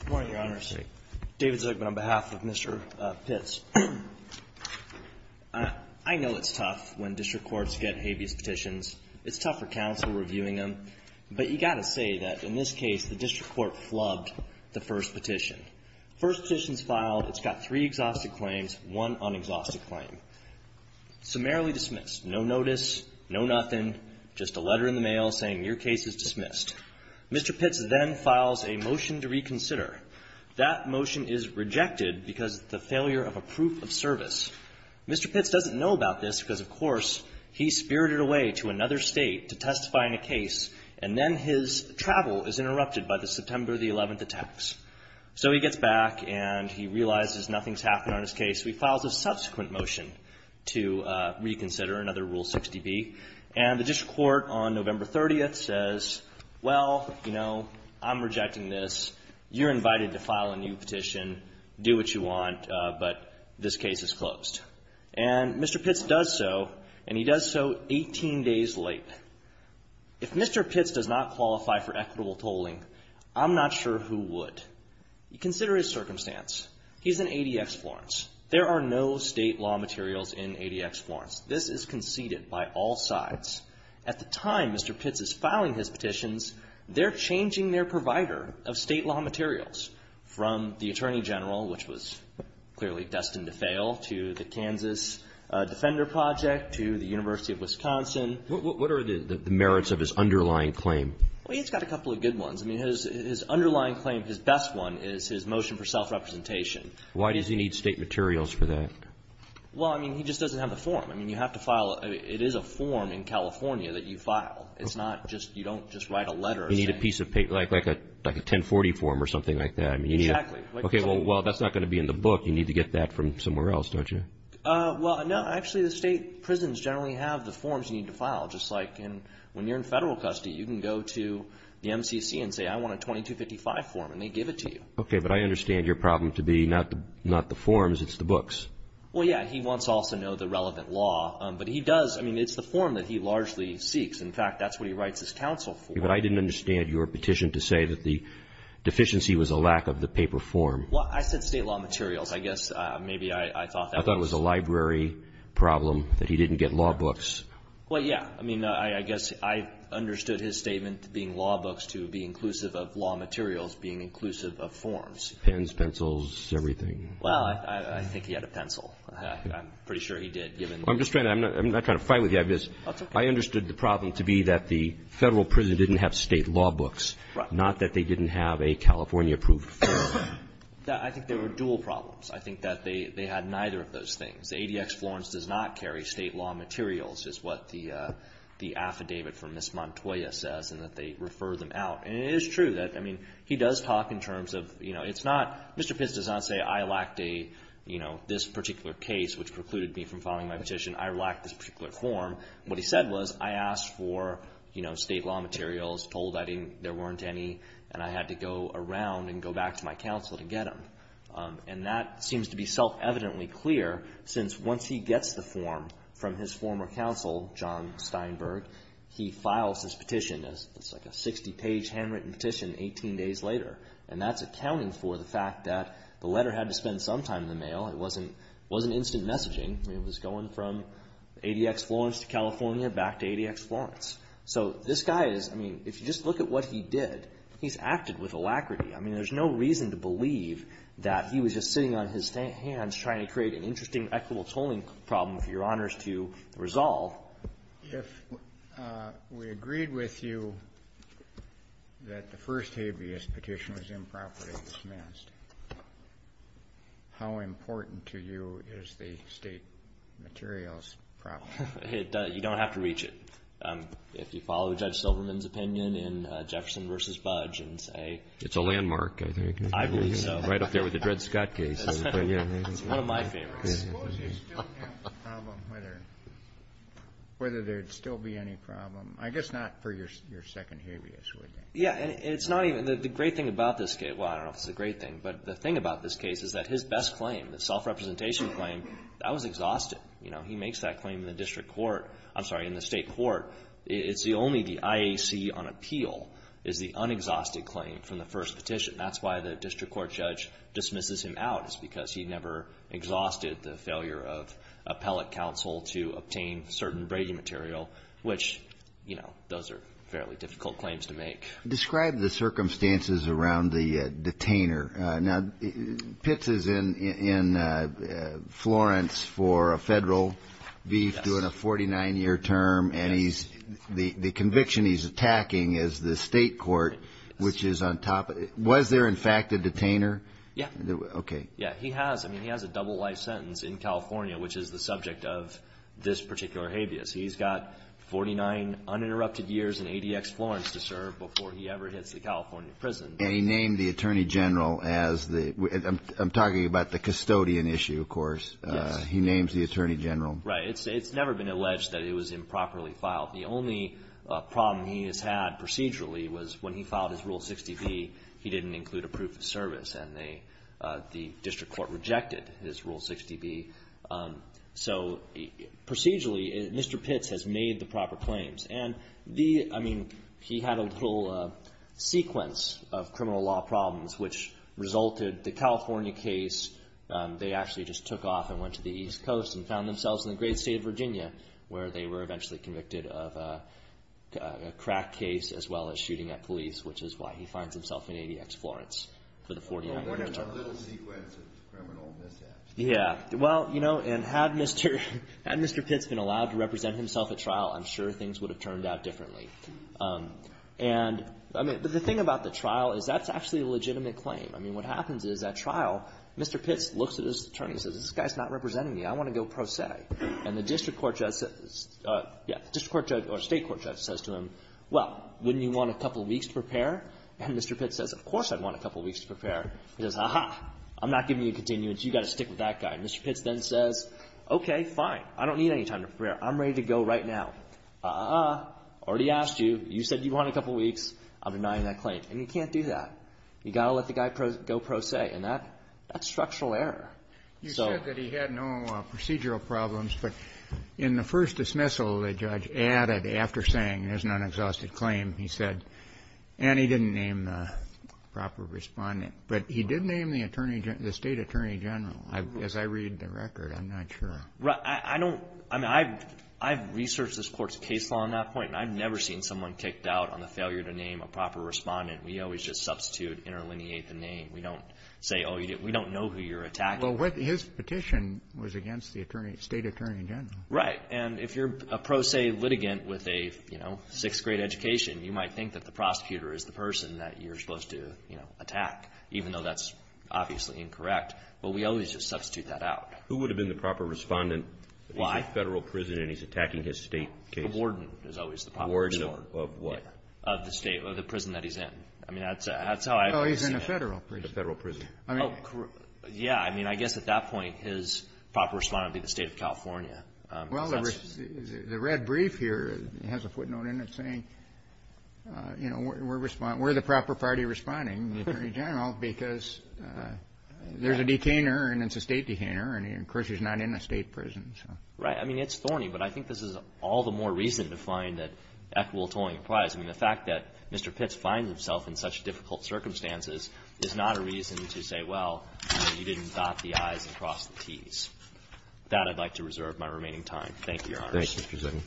Good morning, Your Honors. David Zuckman on behalf of Mr. Pitts. I know it's tough when district courts get habeas petitions. It's tough for counsel reviewing them. But you got to say that in this case, the district court flubbed the first petition. First petition is filed. It's got three exhaustive claims, one unexhausted claim. Summarily dismissed. No notice. No nothing. Just a letter in the mail saying your case is dismissed. Mr. Pitts then files a motion to reconsider. That motion is rejected because of the failure of a proof of service. Mr. Pitts doesn't know about this because, of course, he spirited away to another state to testify in a case. And then his travel is interrupted by the September 11th attacks. So he gets back and he realizes nothing's happened on his case. So he files a subsequent motion to reconsider, another Rule 60B. And the district court on November 30th says, well, you know, I'm rejecting this. You're invited to file a new petition. Do what you want, but this case is closed. And Mr. Pitts does so, and he does so 18 days late. If Mr. Pitts does not qualify for equitable tolling, I'm not sure who would. Consider his circumstance. He's in ADX Florence. There are no state law materials in ADX Florence. This is conceded by all sides. At the time Mr. Pitts is filing his petitions, they're changing their provider of state law materials from the Attorney General, which was clearly destined to fail, to the Kansas Defender Project, to the University of Wisconsin. What are the merits of his underlying claim? Well, he's got a couple of good ones. I mean, his underlying claim, his best one is his claim for self-representation. Why does he need state materials for that? Well, I mean, he just doesn't have the form. I mean, you have to file a, it is a form in California that you file. It's not just, you don't just write a letter or something. You need a piece of paper, like a 1040 form or something like that. Exactly. Okay, well, that's not going to be in the book. You need to get that from somewhere else, don't you? Well, no, actually the state prisons generally have the forms you need to file, just like in, when you're in federal custody, you can go to the MCC and say, I want a 2255 form, and they give it to you. Okay, but I understand your problem to be not the forms, it's the books. Well, yeah, he wants to also know the relevant law, but he does, I mean, it's the form that he largely seeks. In fact, that's what he writes his counsel for. But I didn't understand your petition to say that the deficiency was a lack of the paper form. Well, I said state law materials. I guess maybe I thought that was a library problem that he didn't get law books. Well, yeah, I mean, I guess I understood his statement being law books to be inclusive of law materials being inclusive of forms. Pens, pencils, everything. Well, I think he had a pencil. I'm pretty sure he did, given the... I'm just trying to, I'm not trying to fight with you, I just, I understood the problem to be that the federal prison didn't have state law books, not that they didn't have a California-approved form. I think they were dual problems. I think that they had neither of those things. The ADX Florence does not carry state law materials, is what the affidavit from Ms. Montoya says, and that they refer them out. And it is true that, I mean, he does talk in terms of, you know, it's not, Mr. Pence does not say, I lacked a, you know, this particular case, which precluded me from filing my petition. I lacked this particular form. What he said was, I asked for, you know, state law materials, told I didn't, there weren't any, and I had to go around and go back to my counsel to get them. And that seems to be self-evidently clear, since once he gets the form from his former counsel, John Steinberg, he files his petition as, it's like a 60-page handwritten petition 18 days later. And that's accounting for the fact that the letter had to spend some time in the mail. It wasn't instant messaging. I mean, it was going from ADX Florence to California, back to ADX Florence. So this guy is, I mean, if you just look at what he did, he's acted with alacrity. I mean, there's no reason to believe that he was just sitting on his hands trying to create an interesting equitable tolling problem for Your Honors to resolve. Kennedy. If we agreed with you that the first habeas petition was improperly dismissed, how important to you is the state materials problem? Zassovich. It does. You don't have to reach it. If you follow Judge Silverman's opinion in Jefferson v. Budge and say you know. Roberts. It's a landmark, I think. Zassovich. I believe so. Roberts. Right up there with the Dred Scott case. Zassovich. It's one of my favorites. Kennedy. I suppose you still have the problem whether there'd still be any problem. I guess not for your second habeas, would you? Zassovich. Yeah. And it's not even, the great thing about this case, well, I don't know if it's a great thing, but the thing about this case is that his best claim, the self-representation claim, that was exhausted. You know, he makes that claim in the district court, I'm sorry, in the state court. It's the only, the IAC on appeal is the unexhausted claim from the first petition. That's why the district court judge dismisses him out, is because he never exhausted the failure of appellate counsel to obtain certain breaking material, which, you know, those are fairly difficult claims to make. Kennedy. Describe the circumstances around the detainer. Now, Pitts is in Florence for a federal brief, doing a 49-year term, and he's, the conviction he's attacking is the state court, which is on top of, was there in fact a detainer? Zassovich. Yeah. Okay. Yeah. He has, I mean, he has a double life sentence in California, which is the subject of this particular habeas. He's got 49 uninterrupted years in ADX Florence to serve before he ever hits the California prison. And he named the attorney general as the, I'm talking about the custodian issue, of course. He names the attorney general. Right. It's never been alleged that it was improperly filed. The only problem he has had procedurally was when he filed his Rule 60B, he didn't include a proof of service, and they, the district court rejected his Rule 60B. So procedurally, Mr. Pitts has made the proper claims. And the, I mean, he had a little sequence of criminal law problems, which resulted, the California case, they actually just took off and went to the East Coast and found themselves in the great state of Virginia, where they were eventually convicted of a crack case, as well as shooting at police, which is why he finds himself in ADX Florence for the 49 uninterrupted years. A little sequence of criminal mishaps. Yeah. Well, you know, and had Mr. Pitts been allowed to represent himself at trial, I'm sure things would have turned out differently. And, I mean, the thing about the trial is that's actually a legitimate claim. I mean, what happens is, at trial, Mr. Pitts looks at his attorney and says, this guy's not representing me. I want to go pro se. And the district court judge says, yeah, the district court judge or state court judge says to him, well, wouldn't you want a couple of weeks to prepare? And Mr. Pitts says, of course I'd want a couple of weeks to prepare. He says, aha, I'm not giving you a continuance. You've got to stick with that guy. And Mr. Pitts then says, okay, fine. I don't need any time to prepare. I'm ready to go right now. Aha, I already asked you. You said you wanted a couple of weeks. I'm denying that claim. And you can't do that. You've got to let the guy go pro se. And that, that's structural error. So you said that he had no procedural problems, but in the first dismissal, the judge added, after saying there's an unexhausted claim, he said, and he didn't name the proper Respondent. But he did name the Attorney General, the State Attorney General. As I read the record, I'm not sure. Right. I don't. I mean, I've researched this Court's case law on that point, and I've never seen someone kicked out on the failure to name a proper Respondent. We always just substitute, interlineate the name. We don't say, oh, we don't know who you're attacking. Well, his petition was against the Attorney, State Attorney General. Right. And if you're a pro se litigant with a, you know, sixth-grade education, you might think that the prosecutor is the person that you're supposed to, you know, attack, even though that's obviously incorrect. But we always just substitute that out. Who would have been the proper Respondent if he's in a Federal prison and he's attacking his State case? The Warden is always the proper Respondent. The Warden of what? Of the State, of the prison that he's in. I mean, that's how I've seen it. Oh, he's in a Federal prison. A Federal prison. Oh, yeah. I mean, I guess at that point, his proper Respondent would be the State of California. Well, the red brief here has a footnote in it saying, you know, we're the proper party responding, the Attorney General, because there's a detainer and it's a State detainer and, of course, he's not in a State prison. Right. I mean, it's thorny, but I think this is all the more reason to find that equitable tolling applies. I mean, the fact that Mr. Pitts finds himself in such difficult circumstances is not a reason to say, well, you didn't dot the i's and cross the t's. With that, I'd like to reserve my remaining time. Thank you, Your Honors. Thank you, Mr. Zitton.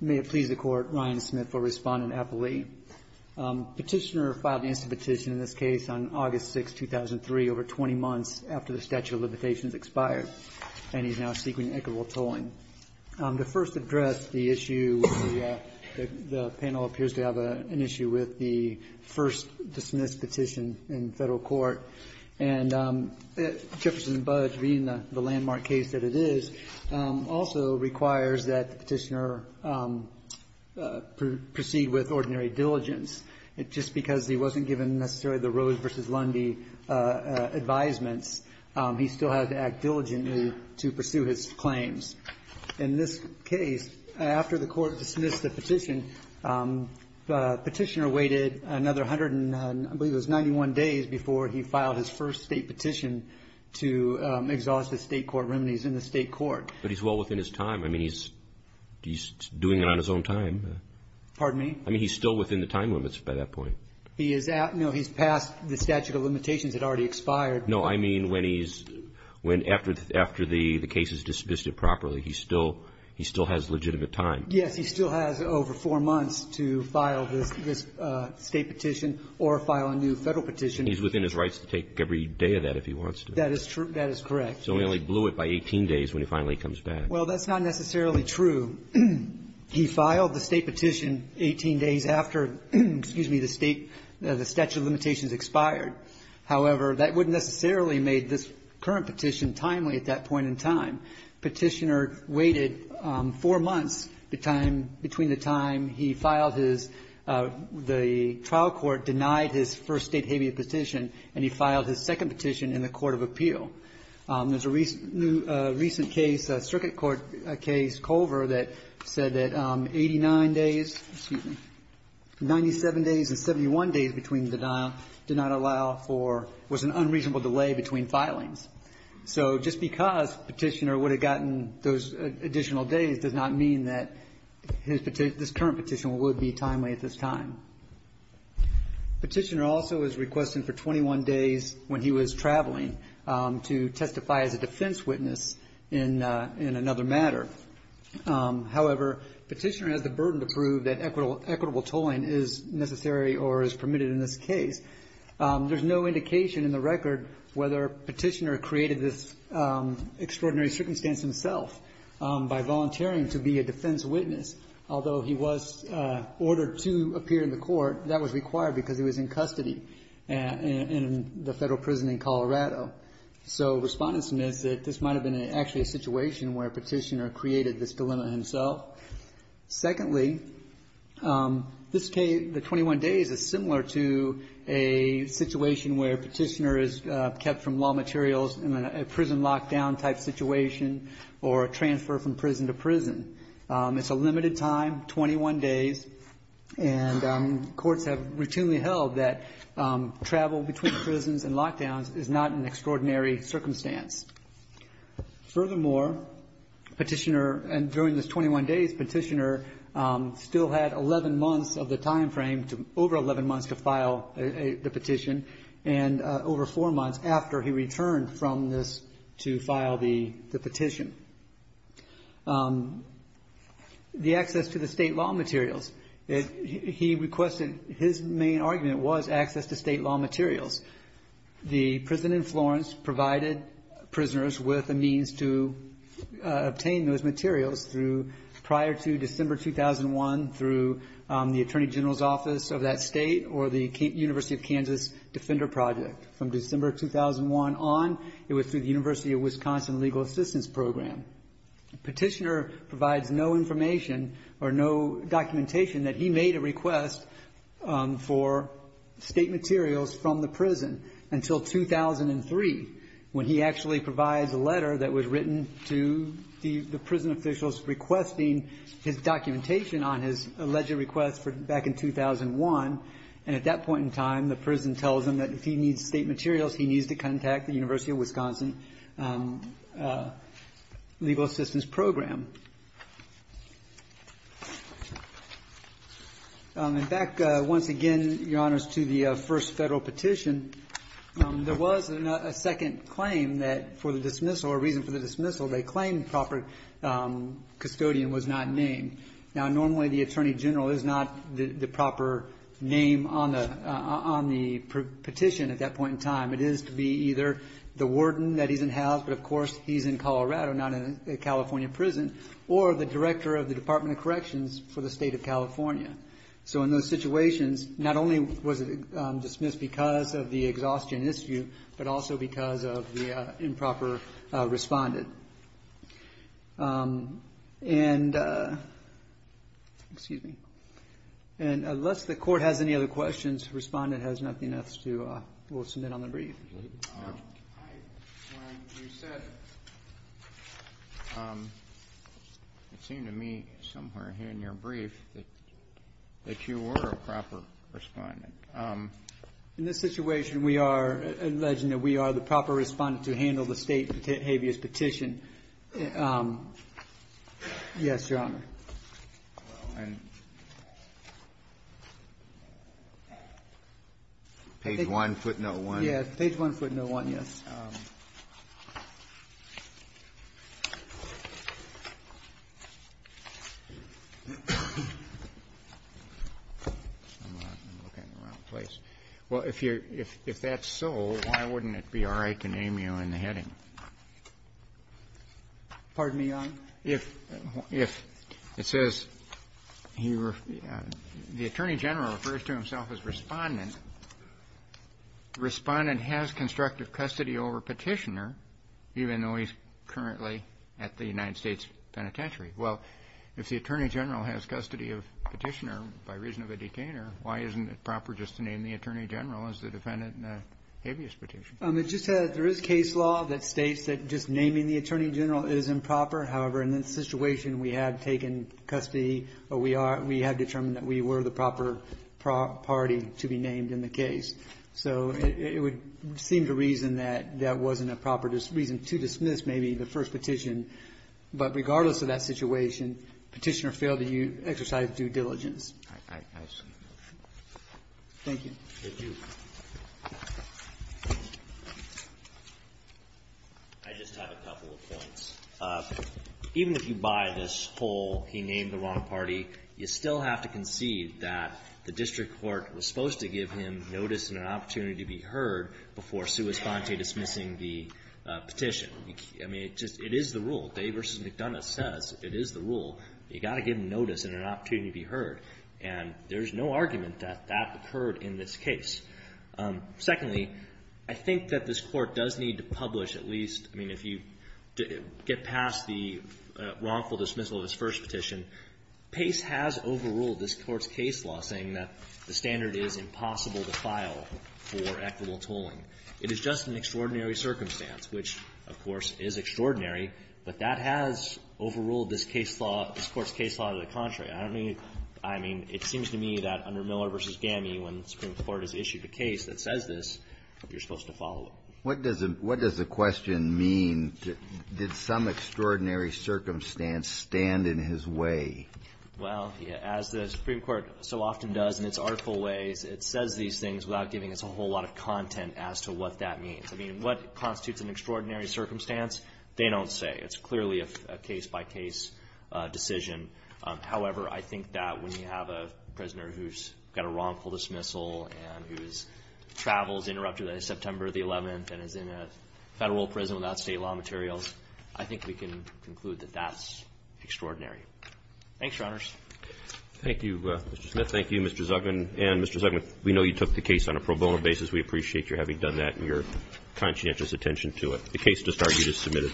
May it please the Court, Ryan Smith for Respondent Epelee. Petitioner filed an instant petition in this case on August 6, 2003, over 20 months after the statute of limitations expired, and he's now seeking equitable tolling. To first address the issue, the panel appears to have an issue with the first dismissed petition in Federal court, and Jefferson Budge, being the landmark case that it is, also requires that the Petitioner proceed with ordinary diligence, just because he wasn't given necessarily the Rose v. Lundy advisements. He still had to act diligently to pursue his claims. In this case, after the Court dismissed the petition, the Petitioner waited another hundred and, I believe it was 91 days before he filed his first State petition to exhaust the State court remedies in the State court. But he's well within his time. I mean, he's doing it on his own time. Pardon me? I mean, he's still within the time limits by that point. He is at no, he's past the statute of limitations that already expired. No, I mean when he's, when after the case is dismissed it properly, he still has legitimate time. Yes. He still has over four months to file this State petition or file a new Federal petition. He's within his rights to take every day of that if he wants to. That is true. That is correct. So he only blew it by 18 days when he finally comes back. Well, that's not necessarily true. He filed the State petition 18 days after, excuse me, the State, the statute of limitations expired. However, that wouldn't necessarily make this current petition timely at that point in time. Petitioner waited four months, the time, between the time he filed his, the trial court denied his first State habeas petition, and he filed his second petition in the Court of Appeal. There's a recent case, a circuit court case, Culver, that said that 89 days, excuse me, 97 days and 71 days between the denial did not allow for, was an unreasonable delay between filings. So just because Petitioner would have gotten those additional days does not mean that his, this current petition would be timely at this time. Petitioner also is requesting for 21 days when he was traveling to testify as a defense witness in another matter. However, Petitioner has the burden to prove that equitable tolling is necessary or is permitted in this case. There's no indication in the record whether Petitioner created this extraordinary circumstance himself by volunteering to be a defense witness, although he was ordered to appear in the court, that was required because he was in custody in the Federal Prison in Colorado. So respondent's myth is that this might have been actually a situation where Petitioner created this dilemma himself. Secondly, this case, the 21 days, is similar to a situation where Petitioner is kept from law materials in a prison lockdown type situation or a transfer from prison to prison. It's a limited time, 21 days, and courts have routinely held that travel between prisons and lockdowns is not an extraordinary circumstance. Furthermore, Petitioner, and during this 21 days, Petitioner still had 11 months of the time frame, over 11 months to file the petition, and over four months after he returned from this to file the petition. The access to the state law materials, he requested, his main argument was access to state law materials. The prison in Florence provided prisoners with a means to obtain those materials through, prior to December 2001, through the Attorney General's Office of that state or the University of Kansas Defender Project. From December 2001 on, it was through the University of Wisconsin Legal Assistance Program. Petitioner provides no information or no documentation that he made a request for state materials from the prison until 2003, when he actually provides a letter that was written to the prison officials requesting his documentation on his alleged request back in 2001, and at that point in time, the prison tells him that if he needs state materials, he needs to contact the University of Wisconsin Legal Assistance Program. And back once again, Your Honors, to the first federal petition, there was a second claim that for the dismissal or reason for the dismissal, they claimed proper custodian was not named. Now, normally, the Attorney General is not the proper name on the petition at that point in time. It is to be either the warden that he's in-house, but of course, he's in Colorado, not in a California prison, or the director of the Department of Corrections for the state of California. So in those situations, not only was it dismissed because of the exhaustion issue, but also because of the improper respondent. And unless the Court has any other questions, the respondent has nothing else to submit on the brief. It seemed to me somewhere here in your brief that you were a proper respondent. In this situation, we are alleging that we are the proper respondent to handle the state of California's habeas petition. Yes, Your Honor. Page 1, footnote 1. Well, if that's so, why wouldn't it be all right to name you in the heading? Pardon me, Your Honor. The Attorney General refers to himself as respondent. The respondent has constructive custody over Petitioner, even though he's currently at the United States Penitentiary. Well, if the Attorney General has custody of Petitioner by reason of a detainer, why isn't it proper just to name the Attorney General as the defendant in the habeas petition? There is case law that states that just naming the Attorney General is improper. However, in this situation, we have taken custody or we have determined that we were the proper party to be named in the case. So it would seem to reason that that wasn't a proper reason to dismiss maybe the first petition. But regardless of that situation, Petitioner failed to exercise due diligence. I see. Thank you. Thank you. I just have a couple of points. Even if you buy this whole, he named the wrong party, you still have to concede that the district court was supposed to give him notice and an opportunity to be heard before sui sponte dismissing the petition. I mean, it is the rule. Dave v. McDonough says it is the rule. You've got to give notice and an opportunity to be heard. And there's no argument that that occurred in this case. Secondly, I think that this court does need to publish at least, I mean, if you get past the wrongful dismissal of his first petition, Pace has overruled this court's case law saying that the standard is impossible to file for equitable tolling. It is just an extraordinary circumstance, which, of course, is extraordinary. But that has overruled this court's case law to the contrary. I mean, it seems to me that under Miller v. Gammey, when the Supreme Court has issued a case that says this, you're supposed to follow it. What does the question mean? Did some extraordinary circumstance stand in his way? Well, as the Supreme Court so often does in its artful ways, it says these things without giving us a whole lot of content as to what that means. I mean, what constitutes an extraordinary circumstance, they don't say. It's clearly a case-by-case decision. However, I think that when you have a prisoner who's got a wrongful dismissal and whose travel is interrupted on September the 11th and is in a Federal prison without State law materials, I think we can conclude that that's extraordinary. Thanks, Your Honors. Roberts. Thank you, Mr. Smith. Thank you, Mr. Zugman. And, Mr. Zugman, we know you took the case on a pro bono basis. We appreciate your having done that and your conscientious attention to it. The case to start is submitted.